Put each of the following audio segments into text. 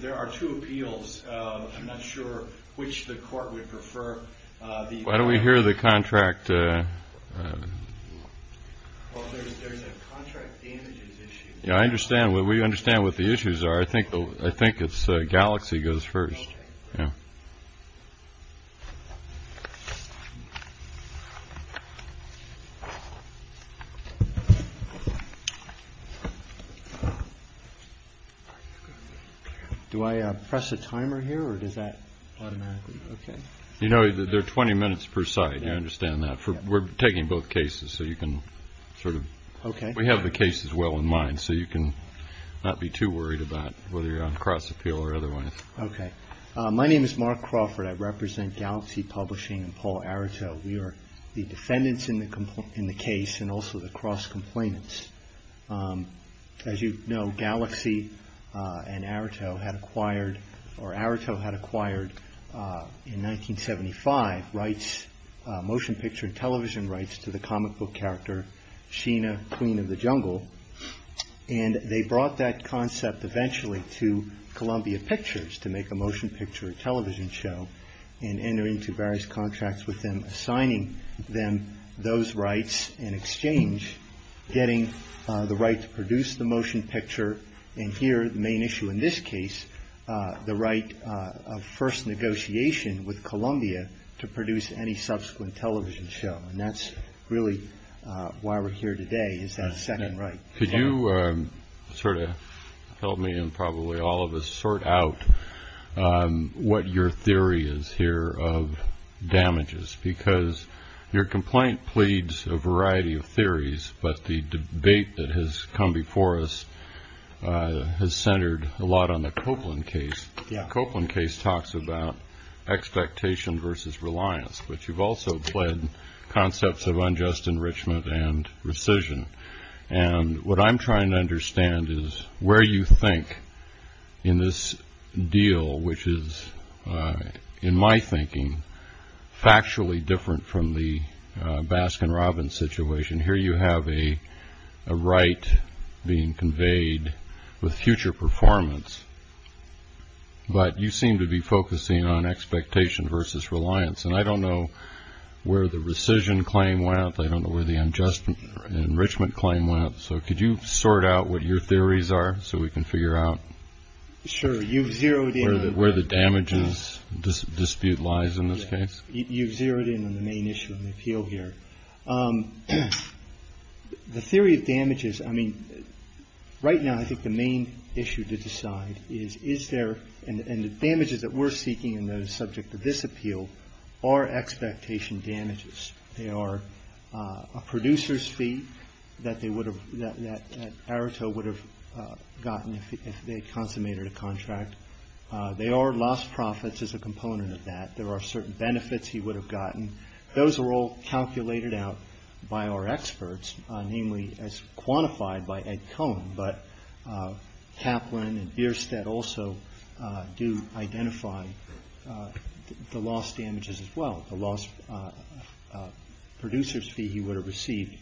There are two appeals. I'm not sure which the court would prefer. Why don't we hear the contract? There's a contract damages issue. Yeah, I understand. We understand what the issues are. I think I think it's Galaxy goes first. Do I press a timer here or does that automatically? You know, there are 20 minutes per side. I understand that. We're taking both cases so you can sort of... Okay. We have the cases well in mind so you can not be too worried about whether you're on cross appeal or otherwise. Okay. My name is Mark Crawford. I represent Galaxy Publishing and Paul Arato. We are the defendants in the case and also the cross complainants. As you know, Galaxy and Arato had acquired or Arato had acquired in 1975 rights, motion picture and television rights to the comic book character Sheena, Queen of the Jungle. And they brought that concept eventually to Columbia Pictures to make a motion picture television show and entering into various contracts with them, assigning them those rights in exchange, getting the right to produce the motion picture and here the main issue in this case, the right of first negotiation with Columbia to produce any subsequent television show. And that's really why we're here today is that second right. Could you sort of help me and probably all of us sort out what your theory is here of damages? Because your complaint pleads a variety of theories, but the debate that has come before us has centered a lot on the Copeland case. The Copeland case talks about expectation versus reliance, but you've also pled concepts of unjust enrichment and rescission. And what I'm trying to understand is where you think in this deal, which is in my thinking factually different from the Baskin-Robbins situation. Here you have a right being conveyed with future performance, but you seem to be focusing on expectation versus reliance. And I don't know where the rescission claim went. I don't know where the unjust enrichment claim went. So could you sort out what your theories are so we can figure out? Sure. You've zeroed in where the damages dispute lies in this case. You've zeroed in on the main issue of the appeal here. The theory of damages. I mean, right now, I think the main issue to decide is, is there. And the damages that we're seeking in the subject of this appeal are expectation damages. They are a producer's fee that they would have, that Areto would have gotten if they consummated a contract. They are lost profits as a component of that. There are certain benefits he would have gotten. Those are all calculated out by our experts, namely as quantified by Ed Cohen. But Kaplan and Bierstadt also do identify the lost damages as well. The lost producer's fee he would have received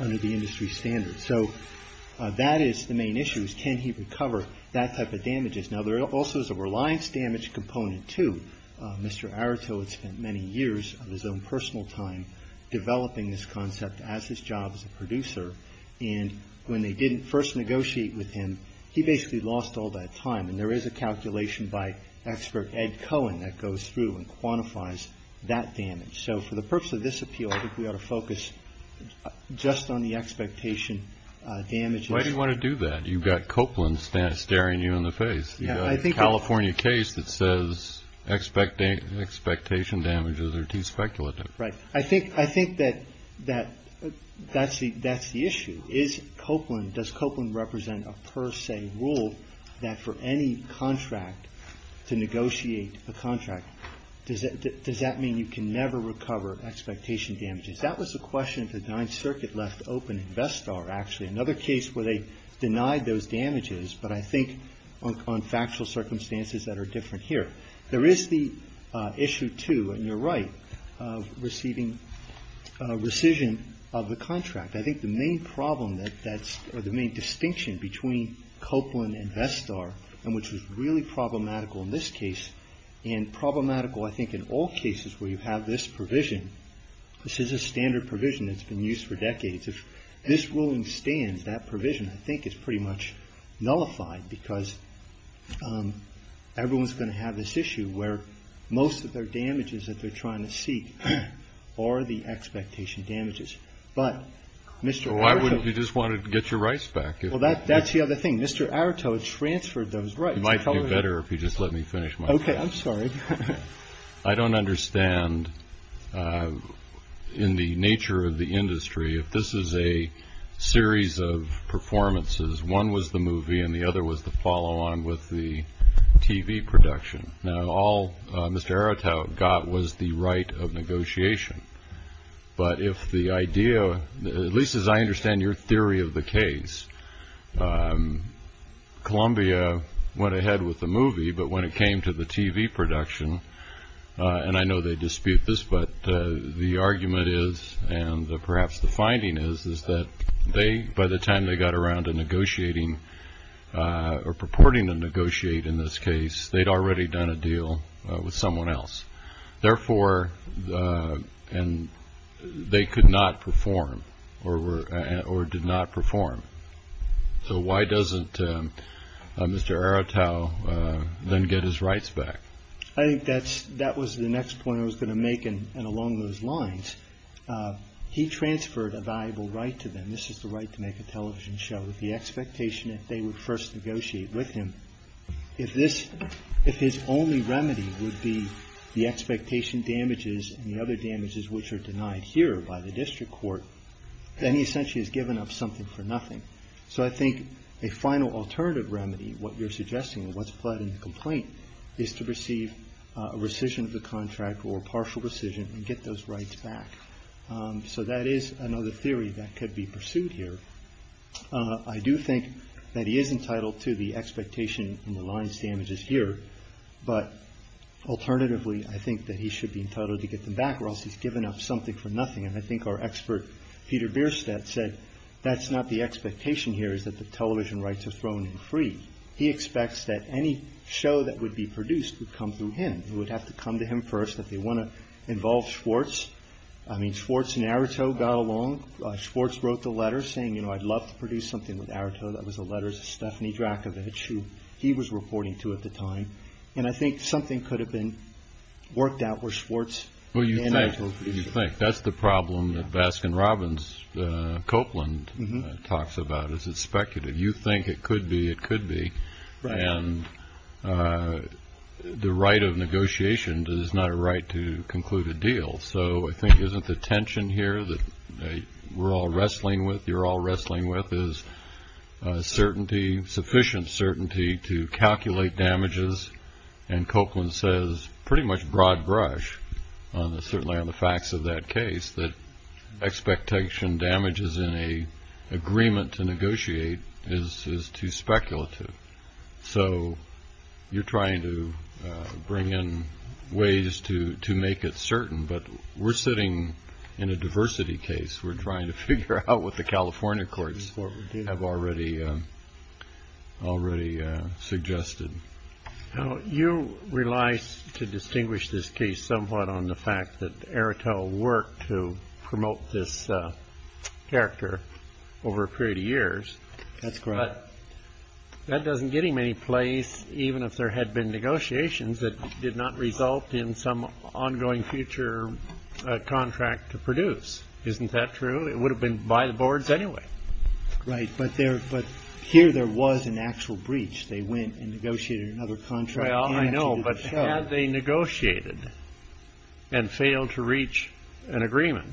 under the industry standards. So that is the main issue, is can he recover that type of damages. Now, there also is a reliance damage component, too. Mr. Areto had spent many years of his own personal time developing this concept as his job as a producer. And when they didn't first negotiate with him, he basically lost all that time. And there is a calculation by expert Ed Cohen that goes through and quantifies that damage. So for the purpose of this appeal, I think we ought to focus just on the expectation damages. Why do you want to do that? You've got Kaplan staring you in the face. You've got a California case that says expectation damages are too speculative. I think that that's the issue. Is Copeland, does Copeland represent a per se rule that for any contract to negotiate a contract, does that mean you can never recover expectation damages? That was the question that the Ninth Circuit left open in Bestar, actually. Another case where they denied those damages, but I think on factual circumstances that are different here. There is the issue, too, and you're right, of receiving rescission of the contract. I think the main problem or the main distinction between Copeland and Bestar, and which was really problematical in this case, and problematical I think in all cases where you have this provision. This is a standard provision that's been used for decades. If this ruling stands, that provision I think is pretty much nullified because everyone's going to have this issue where most of their damages that they're trying to seek are the expectation damages. Why wouldn't you just want to get your rights back? Well, that's the other thing. Mr. Aratow transferred those rights. It might be better if you just let me finish. Okay. I'm sorry. I don't understand in the nature of the industry if this is a series of performances. One was the movie and the other was the follow-on with the TV production. Now, all Mr. Aratow got was the right of negotiation. But if the idea, at least as I understand your theory of the case, Columbia went ahead with the movie, but when it came to the TV production, and I know they dispute this, but the argument is, and perhaps the finding is, is that by the time they got around to negotiating or purporting to negotiate in this case, they'd already done a deal with someone else. Therefore, they could not perform or did not perform. So why doesn't Mr. Aratow then get his rights back? I think that was the next point I was going to make, and along those lines. He transferred a valuable right to them. This is the right to make a television show with the expectation that they would first negotiate with him. If his only remedy would be the expectation damages and the other damages which are denied here by the district court, then he essentially has given up something for nothing. So I think a final alternative remedy, what you're suggesting, what's pled in the complaint is to receive a rescission of the contract or a partial rescission and get those rights back. So that is another theory that could be pursued here. I do think that he is entitled to the expectation in the lines damages here. But alternatively, I think that he should be entitled to get them back or else he's given up something for nothing. And I think our expert Peter Bierstadt said that's not the expectation here, is that the television rights are thrown in free. He expects that any show that would be produced would come through him. It would have to come to him first if they want to involve Schwartz. I mean, Schwartz and Aratow got along. Schwartz wrote the letter saying, you know, I'd love to produce something with Aratow. That was a letter to Stephanie Drakovich who he was reporting to at the time. And I think something could have been worked out where Schwartz and Aratow produced it. You think that's the problem that Baskin-Robbins Copeland talks about is it's speculative. You think it could be, it could be. And the right of negotiation is not a right to conclude a deal. So I think isn't the tension here that we're all wrestling with, you're all wrestling with, is certainty, sufficient certainty to calculate damages. And Copeland says pretty much broad brush, certainly on the facts of that case, that expectation damages in an agreement to negotiate is too speculative. So you're trying to bring in ways to make it certain. But we're sitting in a diversity case. We're trying to figure out what the California courts have already suggested. You realize to distinguish this case somewhat on the fact that Aratow worked to promote this character over a period of years. That's correct. But that doesn't get him any place, even if there had been negotiations that did not result in some ongoing future contract to produce. Isn't that true? It would have been by the boards anyway. Right. But here there was an actual breach. They went and negotiated another contract. Well, I know, but had they negotiated and failed to reach an agreement,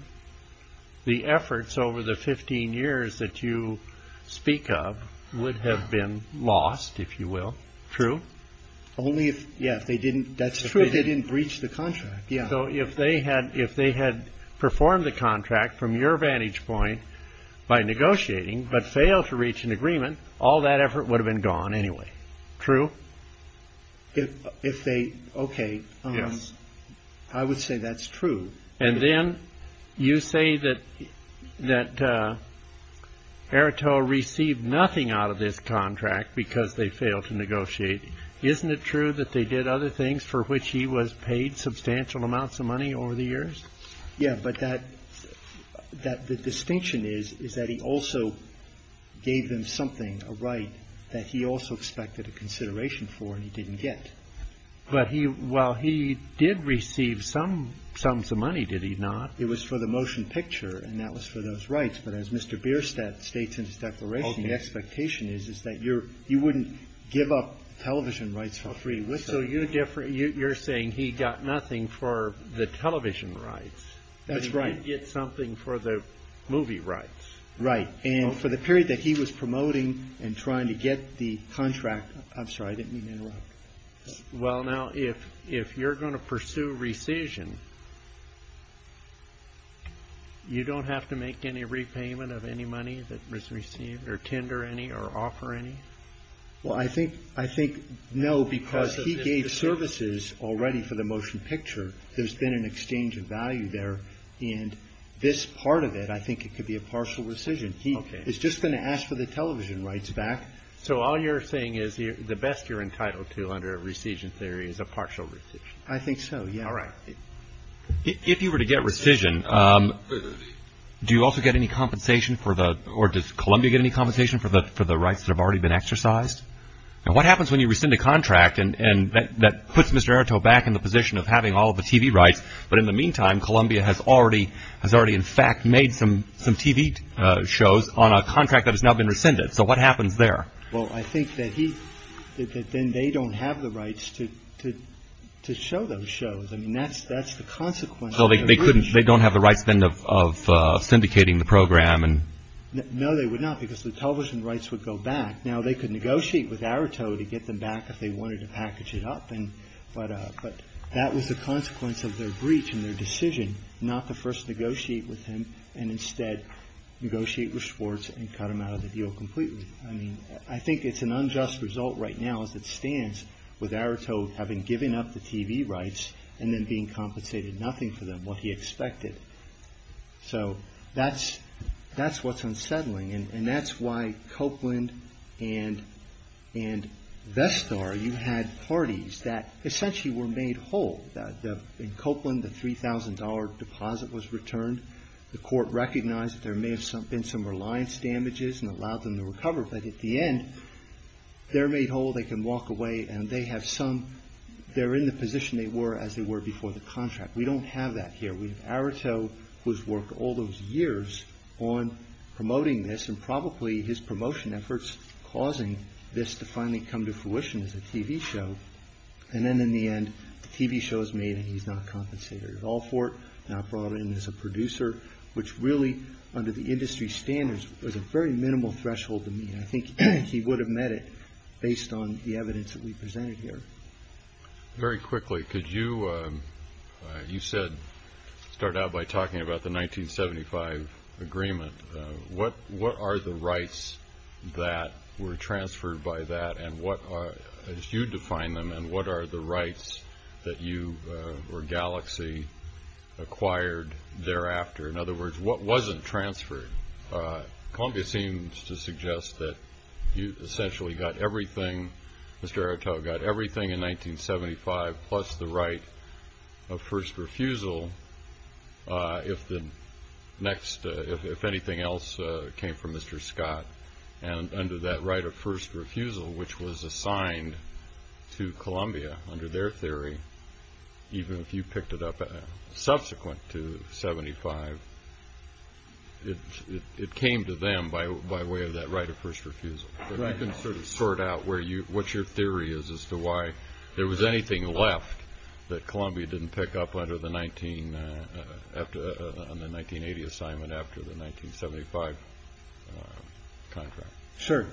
the efforts over the 15 years that you speak of would have been lost, if you will. True. Only if they didn't. That's true. They didn't breach the contract. So if they had if they had performed the contract from your vantage point by negotiating but failed to reach an agreement, all that effort would have been gone anyway. True. If they. OK. I would say that's true. And then you say that that Aratow received nothing out of this contract because they failed to negotiate. Isn't it true that they did other things for which he was paid substantial amounts of money over the years? Yeah. But that that the distinction is, is that he also gave them something right that he also expected a consideration for and he didn't get. But he while he did receive some sums of money, did he not? It was for the motion picture and that was for those rights. But as Mr. Bierstadt states in his declaration, the expectation is, is that you're you wouldn't give up television rights for free. So you're different. You're saying he got nothing for the television rights. That's right. Get something for the movie rights. Right. And for the period that he was promoting and trying to get the contract. I'm sorry, I didn't mean to interrupt. Well, now, if if you're going to pursue rescission. You don't have to make any repayment of any money that was received or tender any or offer any. Well, I think I think. No, because he gave services already for the motion picture. There's been an exchange of value there. And this part of it, I think it could be a partial rescission. It's just going to ask for the television rights back. So all you're saying is the best you're entitled to under a rescission theory is a partial. I think so. All right. If you were to get rescission, do you also get any compensation for the or does Columbia get any compensation for the for the rights that have already been exercised? And what happens when you rescind a contract? And that puts Mr. Arto back in the position of having all the TV rights. But in the meantime, Columbia has already has already, in fact, made some some TV shows on a contract that has now been rescinded. So what happens there? Well, I think that he then they don't have the rights to to to show those shows. I mean, that's that's the consequence. They couldn't they don't have the right spend of syndicating the program. And no, they would not because the television rights would go back. Now, they could negotiate with Arto to get them back if they wanted to package it up. But that was the consequence of their breach and their decision not to first negotiate with him and instead negotiate with Schwartz and cut him out of the deal completely. I mean, I think it's an unjust result right now as it stands with Arto having given up the TV rights and then being compensated nothing for them what he expected. So that's that's what's unsettling. And that's why Copeland and and Vestar, you had parties that essentially were made whole in Copeland. The three thousand dollar deposit was returned. The court recognized that there may have been some reliance damages and allowed them to recover. But at the end, they're made whole. They can walk away and they have some they're in the position they were as they were before the contract. We don't have that here. We have Arto who's worked all those years on promoting this and probably his promotion efforts causing this to finally come to fruition as a TV show. And then in the end, the TV show is made and he's not compensated at all for it. And I brought in as a producer, which really under the industry standards was a very minimal threshold to me. I think he would have met it based on the evidence that we presented here. Very quickly, could you you said start out by talking about the 1975 agreement? What what are the rights that were transferred by that? And what are you define them? And what are the rights that you were galaxy acquired thereafter? In other words, what wasn't transferred? Columbia seems to suggest that you essentially got everything. Mr. Arto got everything in 1975, plus the right of first refusal. If the next if anything else came from Mr. Scott and under that right of first refusal, which was assigned to Columbia under their theory. Even if you picked it up subsequent to 75, it came to them by way of that right of first refusal. I can sort of sort out where you what your theory is as to why there was anything left that Columbia didn't pick up under the 19 after the 1980 assignment after the 1975 contract. Sure.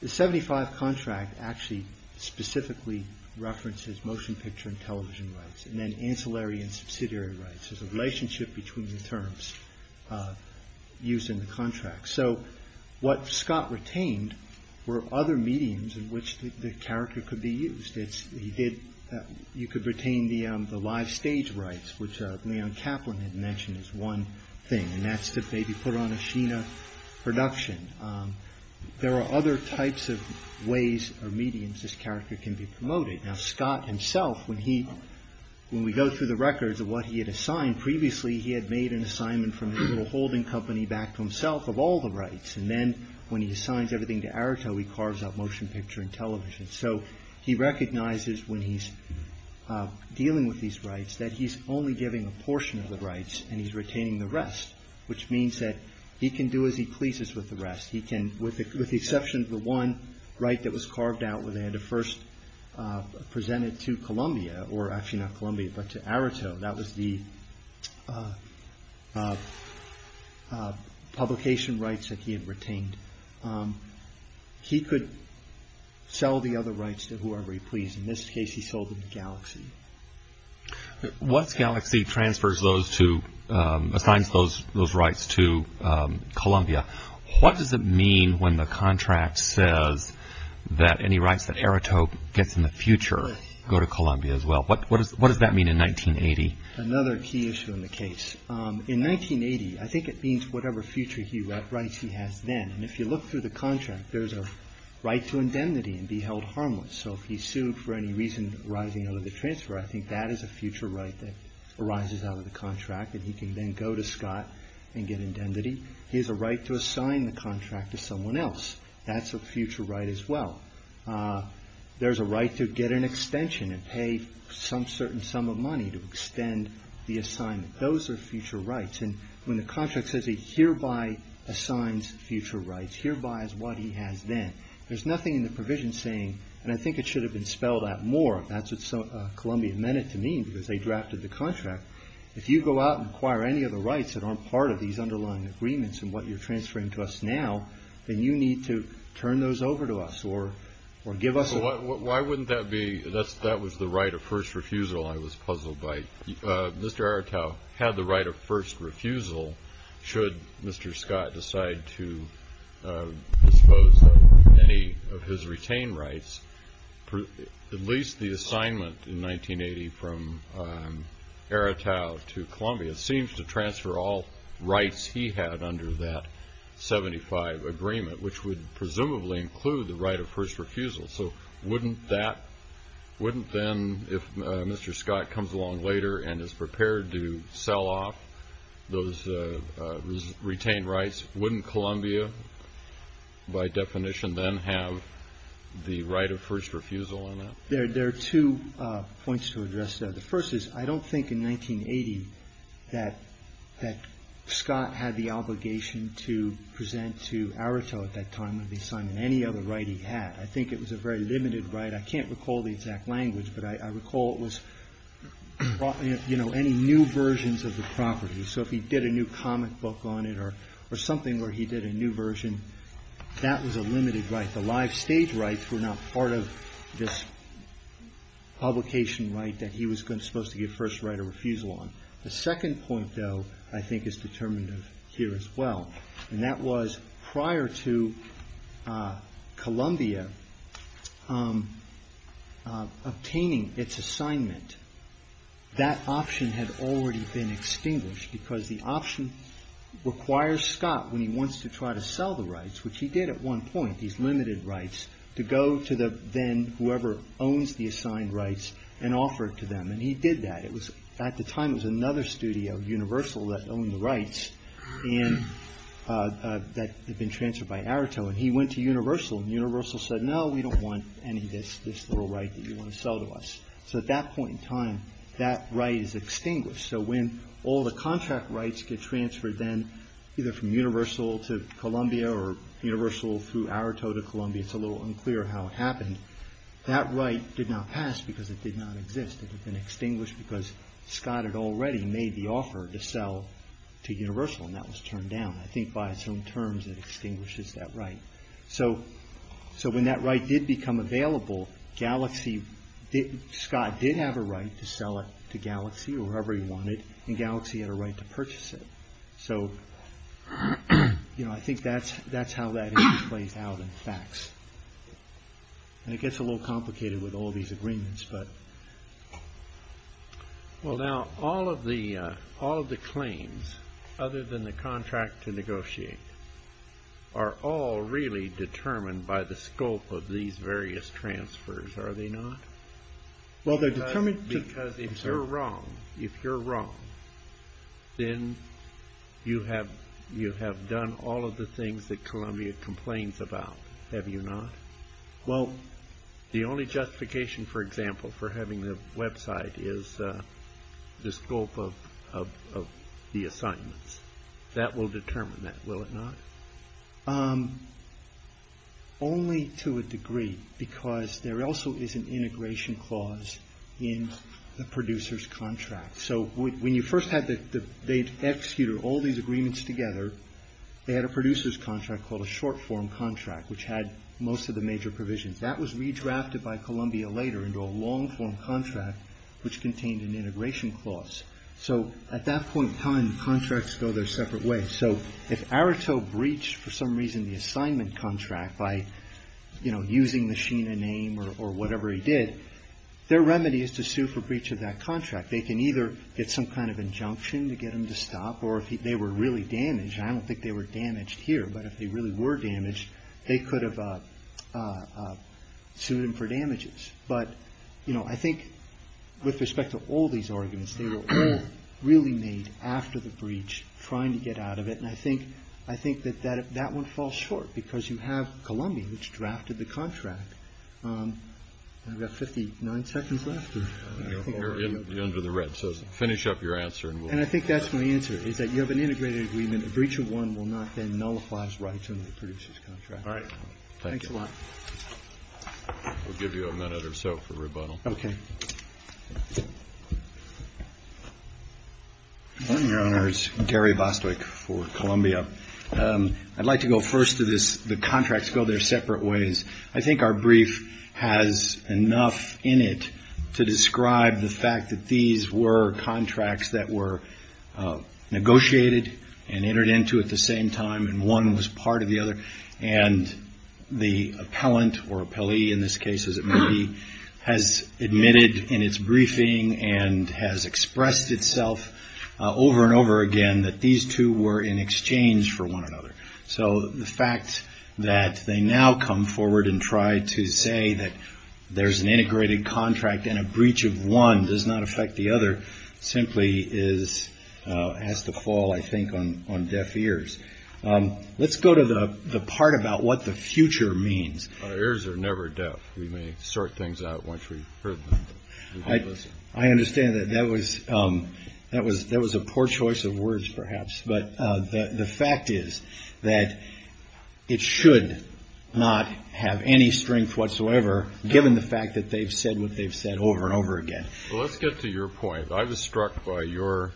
The 75 contract actually specifically references motion picture and television rights and then ancillary and subsidiary rights as a relationship between the terms used in the contract. So what Scott retained were other mediums in which the character could be used. You could retain the live stage rights, which Leon Kaplan had mentioned as one thing, and that's to maybe put on a Sheena production. There are other types of ways or mediums this character can be promoted. Now, Scott himself, when we go through the records of what he had assigned previously, he had made an assignment from the little holding company back to himself of all the rights. And then when he assigns everything to Arto, he carves up motion picture and television. So he recognizes when he's dealing with these rights that he's only giving a portion of the rights and he's retaining the rest, which means that he can do as he pleases with the rest. He can, with the exception of the one right that was carved out when they had to first present it to Columbia or actually not Columbia, but to Arto, that was the publication rights that he had retained. He could sell the other rights to whoever he pleased. In this case, he sold them to Galaxy. Once Galaxy assigns those rights to Columbia, what does it mean when the contract says that any rights that Arto gets in the future go to Columbia as well? What does that mean in 1980? Another key issue in the case. In 1980, I think it means whatever future rights he has then. And if you look through the contract, there's a right to indemnity and be held harmless. So if he's sued for any reason arising out of the transfer, I think that is a future right that arises out of the contract and he can then go to Scott and get indemnity. He has a right to assign the contract to someone else. That's a future right as well. There's a right to get an extension and pay some certain sum of money to extend the assignment. Those are future rights. And when the contract says he hereby assigns future rights, hereby is what he has then. There's nothing in the provision saying, and I think it should have been spelled out more. That's what Columbia meant it to mean because they drafted the contract. If you go out and acquire any of the rights that aren't part of these underlying agreements and what you're transferring to us now, then you need to turn those over to us or give us a… That was the right of first refusal I was puzzled by. Mr. Aretau had the right of first refusal should Mr. Scott decide to dispose of any of his retained rights. At least the assignment in 1980 from Aretau to Columbia seems to transfer all rights he had under that 75 agreement, which would presumably include the right of first refusal. So wouldn't that, wouldn't then if Mr. Scott comes along later and is prepared to sell off those retained rights, wouldn't Columbia by definition then have the right of first refusal in it? There are two points to address there. The first is I don't think in 1980 that Scott had the obligation to present to Aretau at that time the assignment, any other right he had. I think it was a very limited right. I can't recall the exact language, but I recall it was any new versions of the property. So if he did a new comic book on it or something where he did a new version, that was a limited right. The live stage rights were not part of this publication right that he was supposed to get first right of refusal on. The second point, though, I think is determinative here as well. And that was prior to Columbia obtaining its assignment, that option had already been extinguished because the option requires Scott when he wants to try to sell the rights, which he did at one point, these limited rights, to go to then whoever owns the assigned rights and offer it to them. And he did that. At the time, it was another studio, Universal, that owned the rights that had been transferred by Aretau. And he went to Universal, and Universal said, no, we don't want any of this little right that you want to sell to us. So at that point in time, that right is extinguished. So when all the contract rights get transferred then either from Universal to Columbia or Universal through Aretau to Columbia, it's a little unclear how it happened. That right did not pass because it did not exist. It had been extinguished because Scott had already made the offer to sell to Universal, and that was turned down. I think by its own terms, it extinguishes that right. So when that right did become available, Scott did have a right to sell it to Galaxy or whoever he wanted, and Galaxy had a right to purchase it. So I think that's how that issue plays out in facts. And it gets a little complicated with all these agreements. Well, now, all of the claims, other than the contract to negotiate, are all really determined by the scope of these various transfers, are they not? Well, they're determined to... Well, the only justification, for example, for having the website is the scope of the assignments. That will determine that, will it not? Only to a degree because there also is an integration clause in the producer's contract. So when you first had the...they'd executed all these agreements together, they had a producer's contract called a short-form contract, which had most of the major provisions. That was redrafted by Columbia later into a long-form contract, which contained an integration clause. So at that point in time, contracts go their separate ways. So if Areto breached, for some reason, the assignment contract by, you know, using the Sheena name or whatever he did, their remedy is to sue for breach of that contract. They can either get some kind of injunction to get him to stop, or if they were really damaged, and I don't think they were damaged here, but if they really were damaged, they could have sued him for damages. But, you know, I think with respect to all these arguments, they were all really made after the breach, trying to get out of it. And I think that that won't fall short because you have Columbia, which drafted the contract. I've got 59 seconds left. You're under the red. So finish up your answer. And I think that's my answer, is that you have an integrated agreement. A breach of one will not then nullify his rights under the producer's contract. All right. Thanks a lot. We'll give you a minute or so for rebuttal. Okay. Good morning, Your Honors. Gary Bostwick for Columbia. I'd like to go first to this. The contracts go their separate ways. I think our brief has enough in it to describe the fact that these were contracts that were negotiated and entered into at the same time, and one was part of the other, and the appellant, or appellee in this case, as it may be, has admitted in its briefing and has expressed itself over and over again that these two were in exchange for one another. So the fact that they now come forward and try to say that there's an integrated contract and a breach of one does not affect the other simply has to fall, I think, on deaf ears. Let's go to the part about what the future means. Our ears are never deaf. We may sort things out once we've heard them. I understand that. That was a poor choice of words, perhaps. But the fact is that it should not have any strength whatsoever, given the fact that they've said what they've said over and over again. Well, let's get to your point. I was struck by your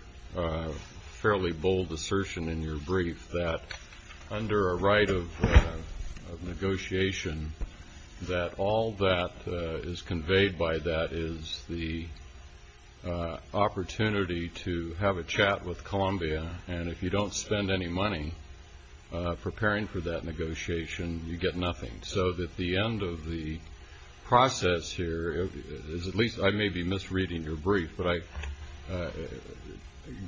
fairly bold assertion in your brief that under a right of negotiation, that all that is conveyed by that is the opportunity to have a chat with Columbia, and if you don't spend any money preparing for that negotiation, you get nothing. So at the end of the process here, at least I may be misreading your brief, but I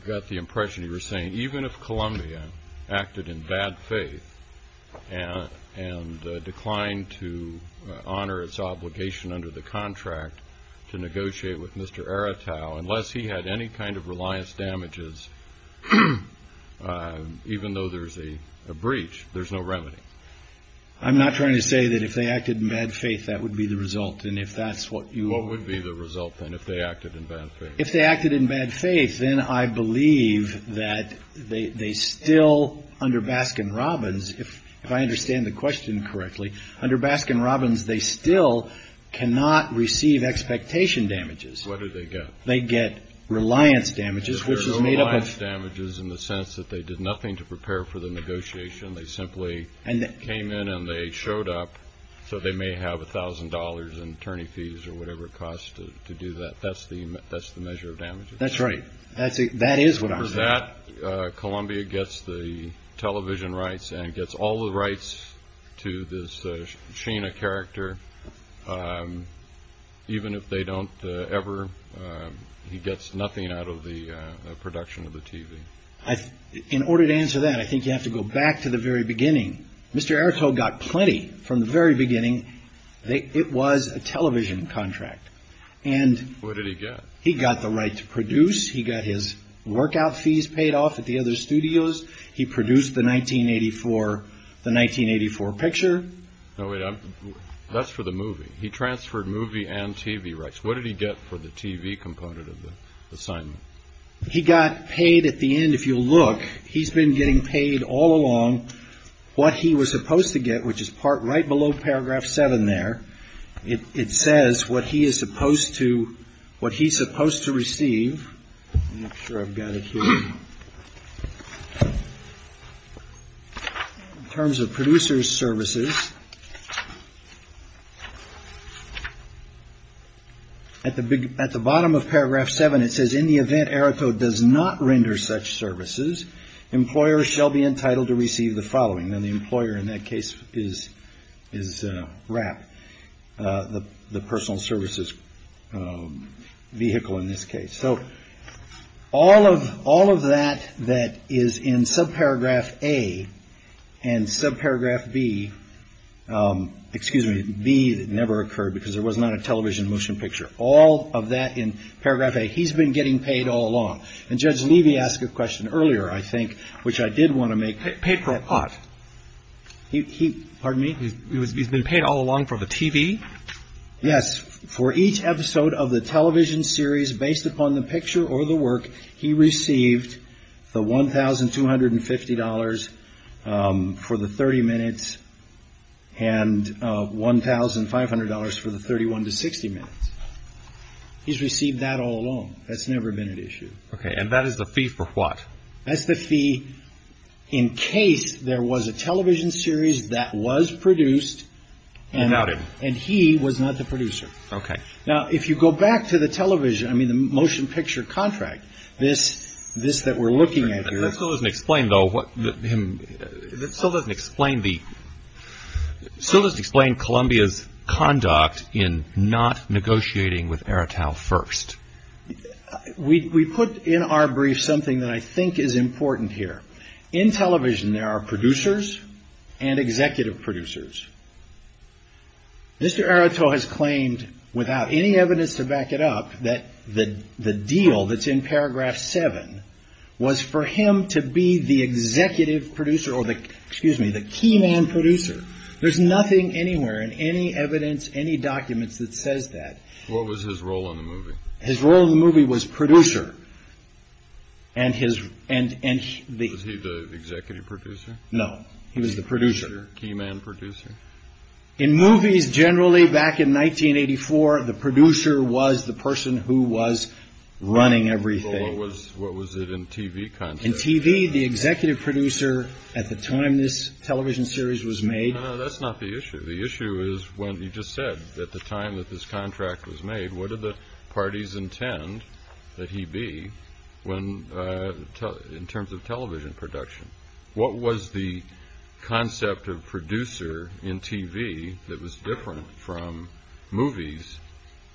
got the impression you were saying even if Columbia acted in bad faith and declined to honor its obligation under the contract to negotiate with Mr. Aretau, unless he had any kind of reliance damages, even though there's a breach, there's no remedy. I'm not trying to say that if they acted in bad faith, that would be the result. What would be the result, then, if they acted in bad faith? If they acted in bad faith, then I believe that they still, under Baskin-Robbins, if I understand the question correctly, under Baskin-Robbins, they still cannot receive expectation damages. What do they get? They get reliance damages, which is made up of… Reliance damages in the sense that they did nothing to prepare for the negotiation. They simply came in and they showed up so they may have $1,000 in attorney fees or whatever it costs to do that. That's the measure of damages. That's right. That is what I'm saying. For that, Columbia gets the television rights and gets all the rights to this Sheena character. Even if they don't ever, he gets nothing out of the production of the TV. In order to answer that, I think you have to go back to the very beginning. Mr. Errico got plenty from the very beginning. It was a television contract. What did he get? He got the right to produce. He got his workout fees paid off at the other studios. He produced the 1984 picture. That's for the movie. He transferred movie and TV rights. What did he get for the TV component of the assignment? He got paid at the end. If you look, he's been getting paid all along what he was supposed to get, which is right below paragraph 7 there. It says what he is supposed to receive. I'm not sure I've got it here. In terms of producer's services. At the bottom of paragraph seven, it says in the event Errico does not render such services, employers shall be entitled to receive the following. And the employer in that case is is wrap the personal services vehicle in this case. So all of all of that that is in subparagraph A and subparagraph B, excuse me, B, that never occurred because there was not a television motion picture, all of that in paragraph A. He's been getting paid all along. And Judge Levy asked a question earlier, I think, which I did want to make paper hot. He pardon me. He's been paid all along for the TV. Yes. For each episode of the television series based upon the picture or the work, he received the one thousand two hundred and fifty dollars for the 30 minutes and one thousand five hundred dollars for the 31 to 60 minutes. He's received that all along. That's never been an issue. And that is the fee for what? That's the fee in case there was a television series that was produced. And he was not the producer. OK. Now, if you go back to the television, I mean, the motion picture contract, this this that we're looking at here doesn't explain, though, what him. That still doesn't explain the still doesn't explain Columbia's conduct in not negotiating with Airtel first. We put in our brief something that I think is important here. In television, there are producers and executive producers. Mr. Airtel has claimed without any evidence to back it up that the the deal that's in paragraph seven was for him to be the executive producer or the excuse me, the key man producer. There's nothing anywhere in any evidence, any documents that says that. His role in the movie was producer. And his and and the executive producer. No, he was the producer. Key man producer in movies. Generally, back in 1984, the producer was the person who was running everything. What was what was it in TV? In TV, the executive producer at the time, this television series was made. That's not the issue. The issue is when you just said that the time that this contract was made, what are the parties intend that he be when in terms of television production? What was the concept of producer in TV that was different from movies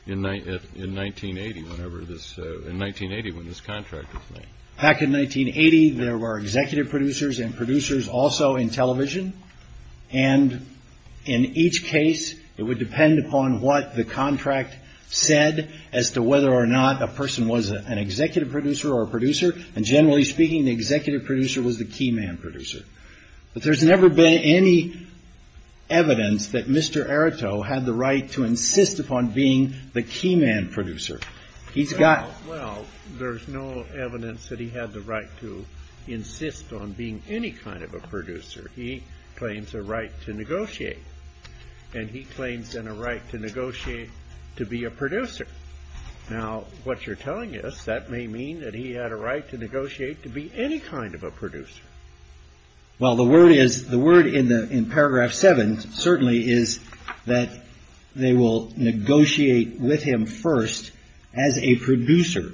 in 1980? Whenever this in 1980, when this contract was made back in 1980, there were executive producers and producers also in television. And in each case, it would depend upon what the contract said as to whether or not a person was an executive producer or a producer. And generally speaking, the executive producer was the key man producer. But there's never been any evidence that Mr. Erato had the right to insist upon being the key man producer. He's got. Well, there's no evidence that he had the right to insist on being any kind of a producer. He claims a right to negotiate and he claims in a right to negotiate to be a producer. Now, what you're telling us, that may mean that he had a right to negotiate to be any kind of a producer. Well, the word is the word in the in paragraph seven certainly is that they will negotiate with him first as a producer.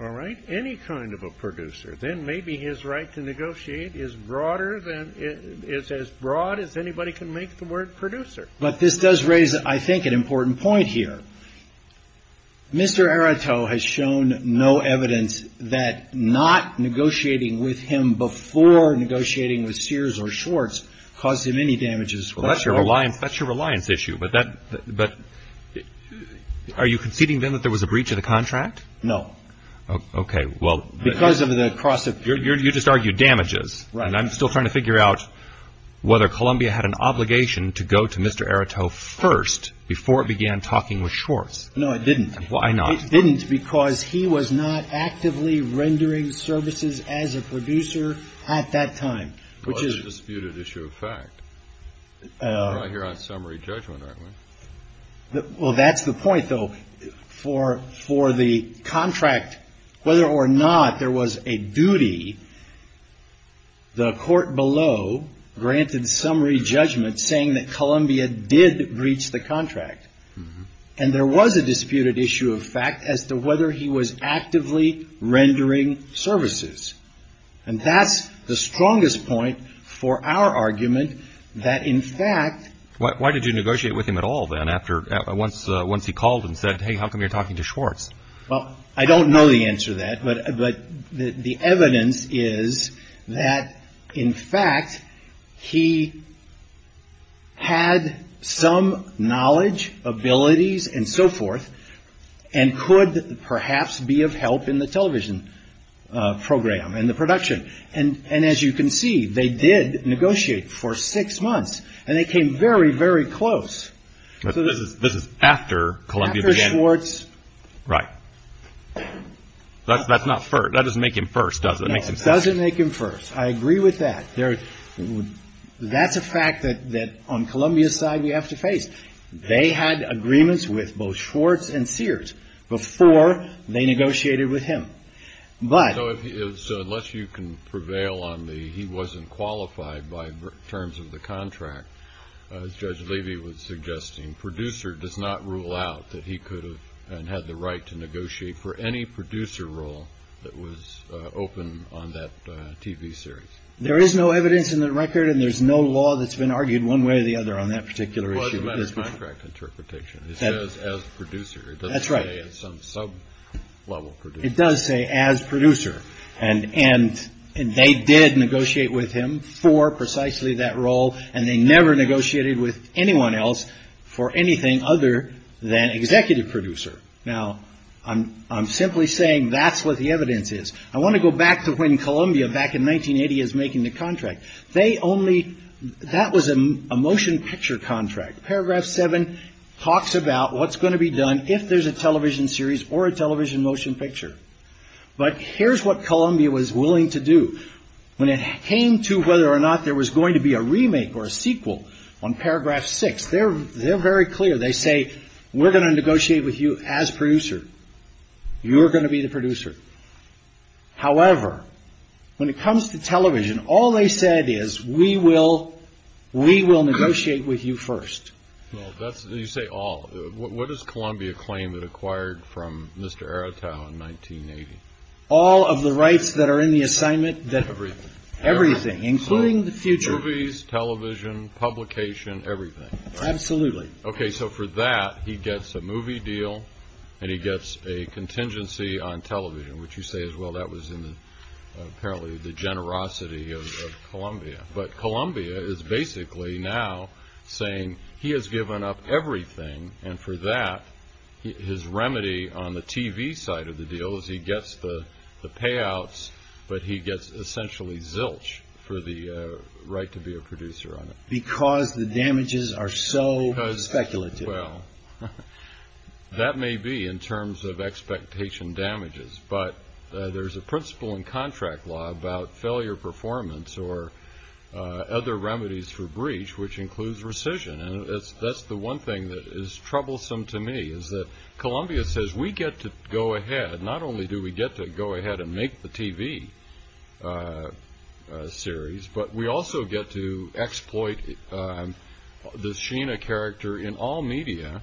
All right. Any kind of a producer. Then maybe his right to negotiate is broader than it is as broad as anybody can make the word producer. But this does raise, I think, an important point here. Mr. Erato has shown no evidence that not negotiating with him before negotiating with Sears or Schwartz caused him any damages. Well, that's your reliance. That's your reliance issue. But that but are you conceding then that there was a breach of the contract? No. OK, well, because of the cross. You just argued damages. And I'm still trying to figure out whether Columbia had an obligation to go to Mr. Erato first before it began talking with Schwartz. No, it didn't. Why not? It didn't because he was not actively rendering services as a producer at that time, which is a disputed issue of fact. You're on summary judgment. Well, that's the point, though, for for the contract, whether or not there was a duty. The court below granted summary judgment, saying that Columbia did breach the contract. And there was a disputed issue of fact as to whether he was actively rendering services. And that's the strongest point for our argument that, in fact. Why did you negotiate with him at all then after once once he called and said, hey, how come you're talking to Schwartz? Well, I don't know the answer to that. But the evidence is that, in fact, he. Had some knowledge, abilities and so forth, and could perhaps be of help in the television program and the production. And and as you can see, they did negotiate for six months and they came very, very close. This is after Columbia. Right. That's not that doesn't make him first, does it? It doesn't make him first. I agree with that. That's a fact that that on Columbia's side, we have to face. They had agreements with both Schwartz and Sears before they negotiated with him. So unless you can prevail on the he wasn't qualified by terms of the contract, as Judge Levy was suggesting, producer does not rule out that he could have had the right to negotiate for any producer role that was open on that TV series. There is no evidence in the record and there's no law that's been argued one way or the other on that particular issue. Interpretation as producer. That's right. Some sub level. It does say as producer. And and they did negotiate with him for precisely that role. And they never negotiated with anyone else for anything other than executive producer. Now, I'm I'm simply saying that's what the evidence is. I want to go back to when Columbia back in 1980 is making the contract. They only that was a motion picture contract. Paragraph seven talks about what's going to be done if there's a television series or a television motion picture. But here's what Columbia was willing to do when it came to whether or not there was going to be a remake or a sequel on paragraph six. They're they're very clear. They say we're going to negotiate with you as producer. You're going to be the producer. However, when it comes to television, all they said is we will we will negotiate with you first. That's you say all. What does Columbia claim that acquired from Mr. Aratow in 1980? All of the rights that are in the assignment that every everything, including the future movies, television, publication, everything. Absolutely. OK, so for that, he gets a movie deal and he gets a contingency on television, which you say as well. That was in the apparently the generosity of Columbia. But Columbia is basically now saying he has given up everything. And for that, his remedy on the TV side of the deal is he gets the payouts. But he gets essentially zilch for the right to be a producer on it. Because the damages are so speculative. That may be in terms of expectation damages, but there is a principle in contract law about failure performance or other remedies for breach, which includes rescission. That's the one thing that is troublesome to me is that Columbia says we get to go ahead. Not only do we get to go ahead and make the TV series, but we also get to exploit the Sheena character in all media.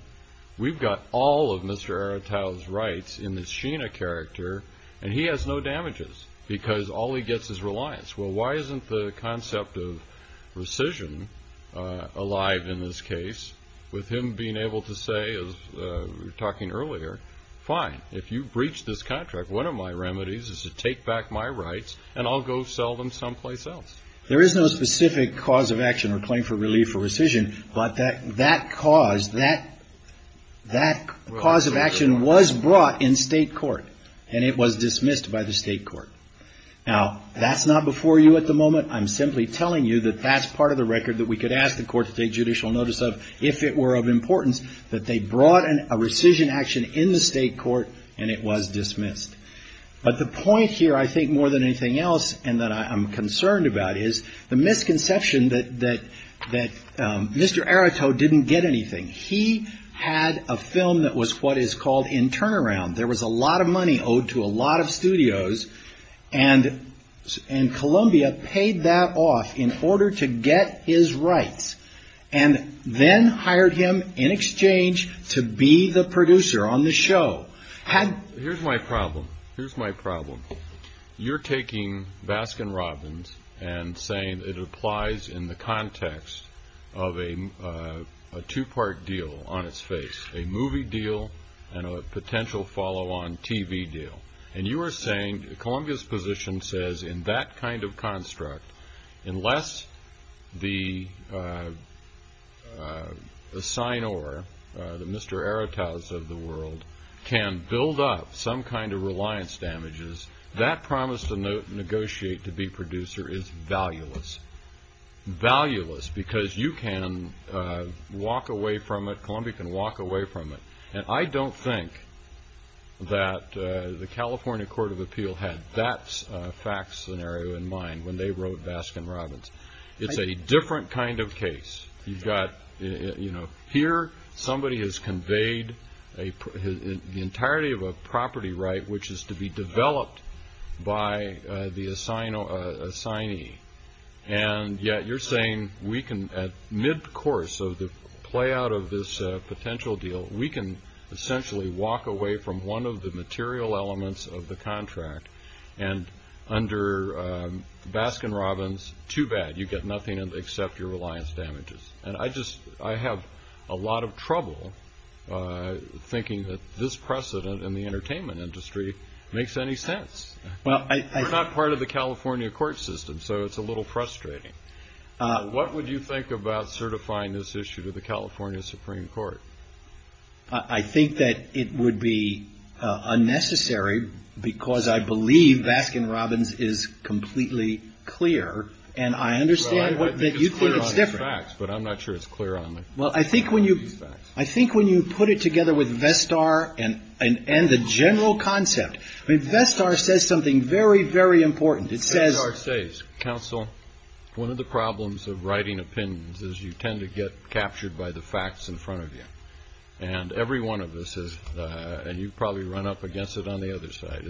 We've got all of Mr. Aratow's rights in the Sheena character. And he has no damages because all he gets is reliance. Well, why isn't the concept of rescission alive in this case? With him being able to say, as we were talking earlier, fine, if you breach this contract, one of my remedies is to take back my rights and I'll go sell them someplace else. There is no specific cause of action or claim for relief for rescission. But that that cause that that cause of action was brought in state court and it was dismissed by the state court. Now, that's not before you at the moment. I'm simply telling you that that's part of the record that we could ask the court to take judicial notice of if it were of importance, that they brought in a rescission action in the state court and it was dismissed. But the point here, I think more than anything else, and that I'm concerned about is the misconception that that that Mr. Aratow didn't get anything. He had a film that was what is called in turnaround. There was a lot of money owed to a lot of studios and and Columbia paid that off in order to get his rights and then hired him in exchange to be the producer on the show. Here's my problem. Here's my problem. You're taking Baskin Robbins and saying it applies in the context of a two part deal on its face, a movie deal and a potential follow on TV deal. And you are saying Columbia's position says in that kind of construct, unless the sign or the Mr. Aratow's of the world can build up some kind of reliance damages, that promise to negotiate to be producer is valueless, valueless because you can walk away from it. Columbia can walk away from it. And I don't think that the California Court of Appeal had that fact scenario in mind when they wrote Baskin Robbins. It's a different kind of case. You've got, you know, here somebody has conveyed the entirety of a property right, which is to be developed by the sign of a sign. And yet you're saying we can at mid course of the play out of this potential deal, we can essentially walk away from one of the material elements of the contract. And under Baskin Robbins, too bad you get nothing except your reliance damages. And I just I have a lot of trouble thinking that this precedent in the entertainment industry makes any sense. Well, I'm not part of the California court system, so it's a little frustrating. What would you think about certifying this issue to the California Supreme Court? I think that it would be unnecessary because I believe Baskin Robbins is completely clear. And I understand that you think it's different, but I'm not sure it's clear on. Well, I think when you I think when you put it together with Vestar and and the general concept, I mean, Vestar says something very, very important. It says our state's counsel. One of the problems of writing opinions is you tend to get captured by the facts in front of you. And every one of us is. And you probably run up against it on the other side.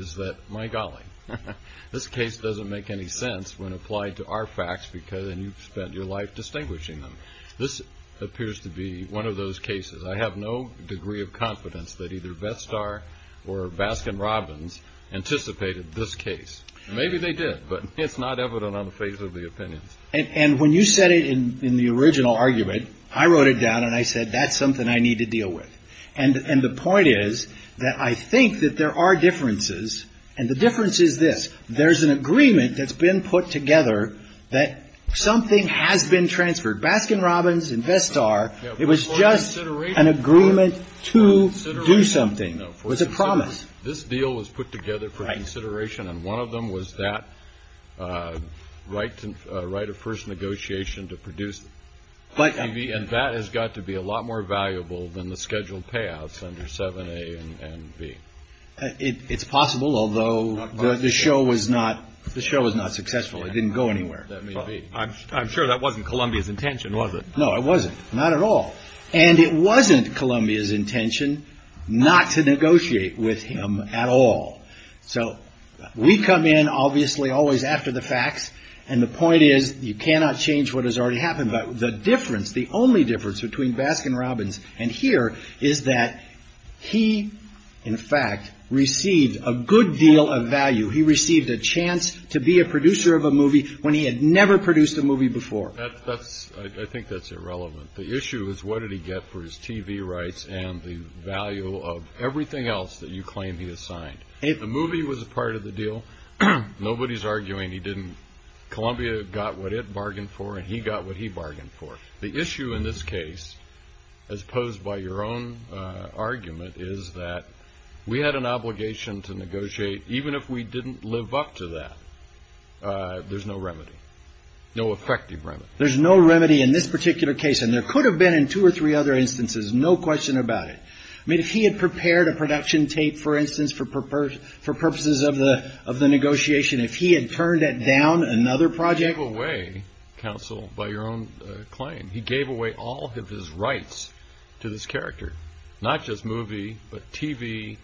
This case doesn't make any sense when applied to our facts because you've spent your life distinguishing them. This appears to be one of those cases. I have no degree of confidence that either Vestar or Baskin Robbins anticipated this case. Maybe they did, but it's not evident on the face of the opinions. And when you said it in the original argument, I wrote it down and I said, that's something I need to deal with. And the point is that I think that there are differences. And the difference is this. There's an agreement that's been put together that something has been transferred. Baskin Robbins and Vestar. It was just an agreement to do something. It was a promise. This deal was put together for consideration. And one of them was that right to write a first negotiation to produce. And that has got to be a lot more valuable than the scheduled payouts under 7A and B. It's possible, although the show was not successful. It didn't go anywhere. I'm sure that wasn't Columbia's intention, was it? No, it wasn't. Not at all. And it wasn't Columbia's intention not to negotiate with him at all. So we come in, obviously, always after the facts. And the point is, you cannot change what has already happened. But the difference, the only difference between Baskin Robbins and here is that he, in fact, received a good deal of value. He received a chance to be a producer of a movie when he had never produced a movie before. I think that's irrelevant. The issue is, what did he get for his TV rights and the value of everything else that you claim he assigned? The movie was a part of the deal. Nobody's arguing he didn't. Columbia got what it bargained for, and he got what he bargained for. The issue in this case, as posed by your own argument, is that we had an obligation to negotiate. Even if we didn't live up to that, there's no remedy, no effective remedy. There's no remedy in this particular case, and there could have been in two or three other instances, no question about it. I mean, if he had prepared a production tape, for instance, for purposes of the negotiation, if he had turned it down, another project. He gave away, counsel, by your own claim, he gave away all of his rights to this character. Not just movie, but TV,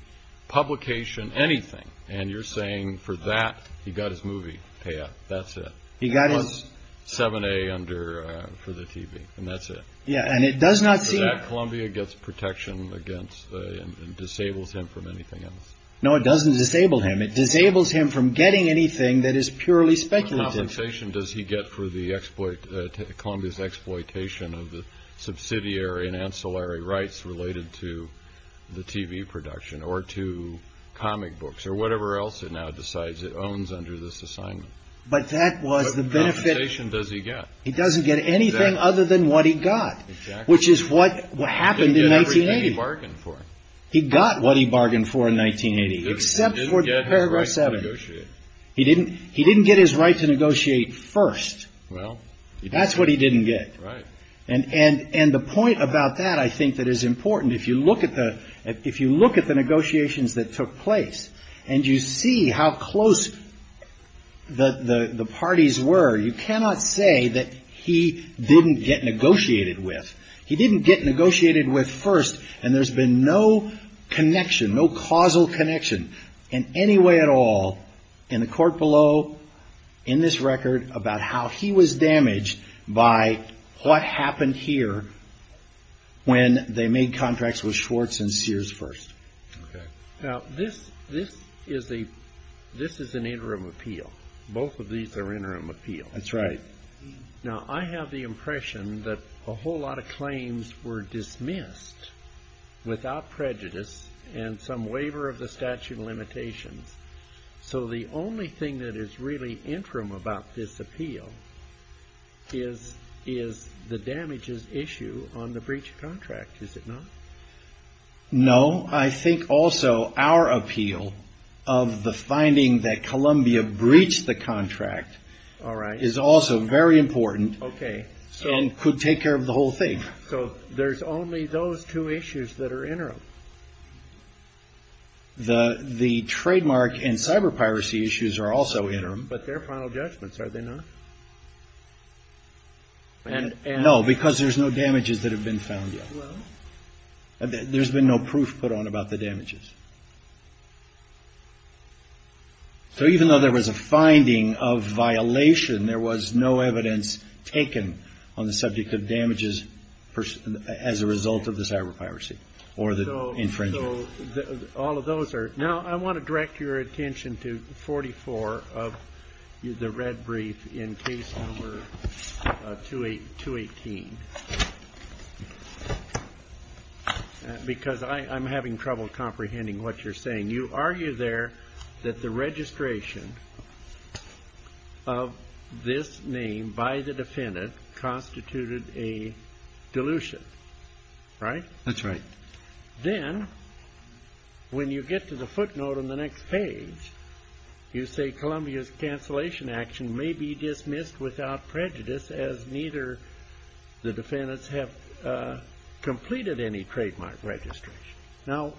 publication, anything. And you're saying for that, he got his movie payout. That's it. He got his. It was 7A under for the TV, and that's it. Yeah, and it does not seem. That Columbia gets protection against and disables him from anything else. No, it doesn't disable him. It disables him from getting anything that is purely speculative. What compensation does he get for the exploit, Columbia's exploitation of the subsidiary and ancillary rights related to the TV production, or to comic books, or whatever else it now decides it owns under this assignment? But that was the benefit. What compensation does he get? He doesn't get anything other than what he got, which is what happened in 1980. He didn't get everything he bargained for. He got what he bargained for in 1980, except for paragraph 7. He didn't get his right to negotiate. He didn't get his right to negotiate first. Well. That's what he didn't get. Right. And the point about that I think that is important. If you look at the negotiations that took place and you see how close the parties were, you cannot say that he didn't get negotiated with. He didn't get negotiated with first, and there's been no connection, no causal connection in any way at all in the court below, in this record, about how he was damaged by what happened here when they made contracts with Schwartz and Sears first. Okay. Now, this is an interim appeal. Both of these are interim appeals. That's right. Now, I have the impression that a whole lot of claims were dismissed without prejudice and some waiver of the statute of limitations. So the only thing that is really interim about this appeal is the damages issue on the breach of contract, is it not? No. I think also our appeal of the finding that Columbia breached the contract is also very important and could take care of the whole thing. So there's only those two issues that are interim? The trademark and cyber piracy issues are also interim. But they're final judgments, are they not? No, because there's no damages that have been found yet. There's been no proof put on about the damages. So even though there was a finding of violation, there was no evidence taken on the subject of damages as a result of the cyber piracy. So all of those are. Now, I want to direct your attention to 44 of the red brief in case number 218, because I'm having trouble comprehending what you're saying. You argue there that the registration of this name by the defendant constituted a dilution, right? That's right. Then when you get to the footnote on the next page, you say Columbia's cancellation action may be dismissed without prejudice as neither the defendants have completed any trademark registration. Now,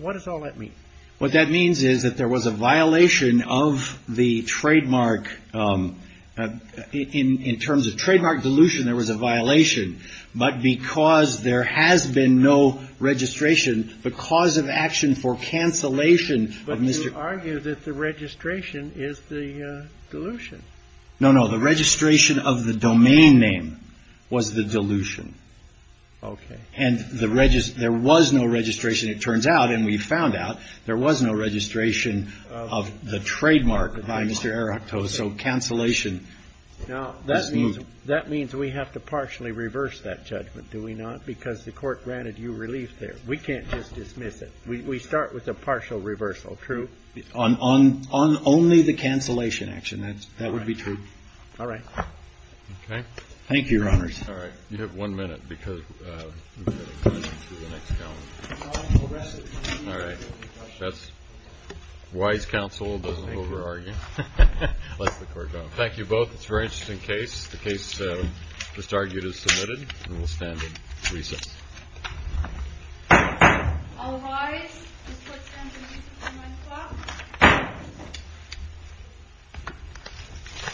what does all that mean? What that means is that there was a violation of the trademark. In terms of trademark dilution, there was a violation. But because there has been no registration, the cause of action for cancellation of Mr. But you argue that the registration is the dilution. No, no. The registration of the domain name was the dilution. OK. And there was no registration. It turns out, and we found out, there was no registration of the trademark by Mr. So cancellation is moved. Now, that means we have to partially reverse that judgment, do we not? Because the Court granted you relief there. We can't just dismiss it. We start with a partial reversal, true? On only the cancellation action. That would be true. All right. OK. Thank you, Your Honors. All right. You have one minute because we've got a question for the next Counsel. All right. That's wise counsel who doesn't over-argue. Bless the Court, Your Honor. Thank you both. It's a very interesting case. The case just argued is submitted, and we'll stand at recess. I'll rise. This Court stands at a recent time. My clock.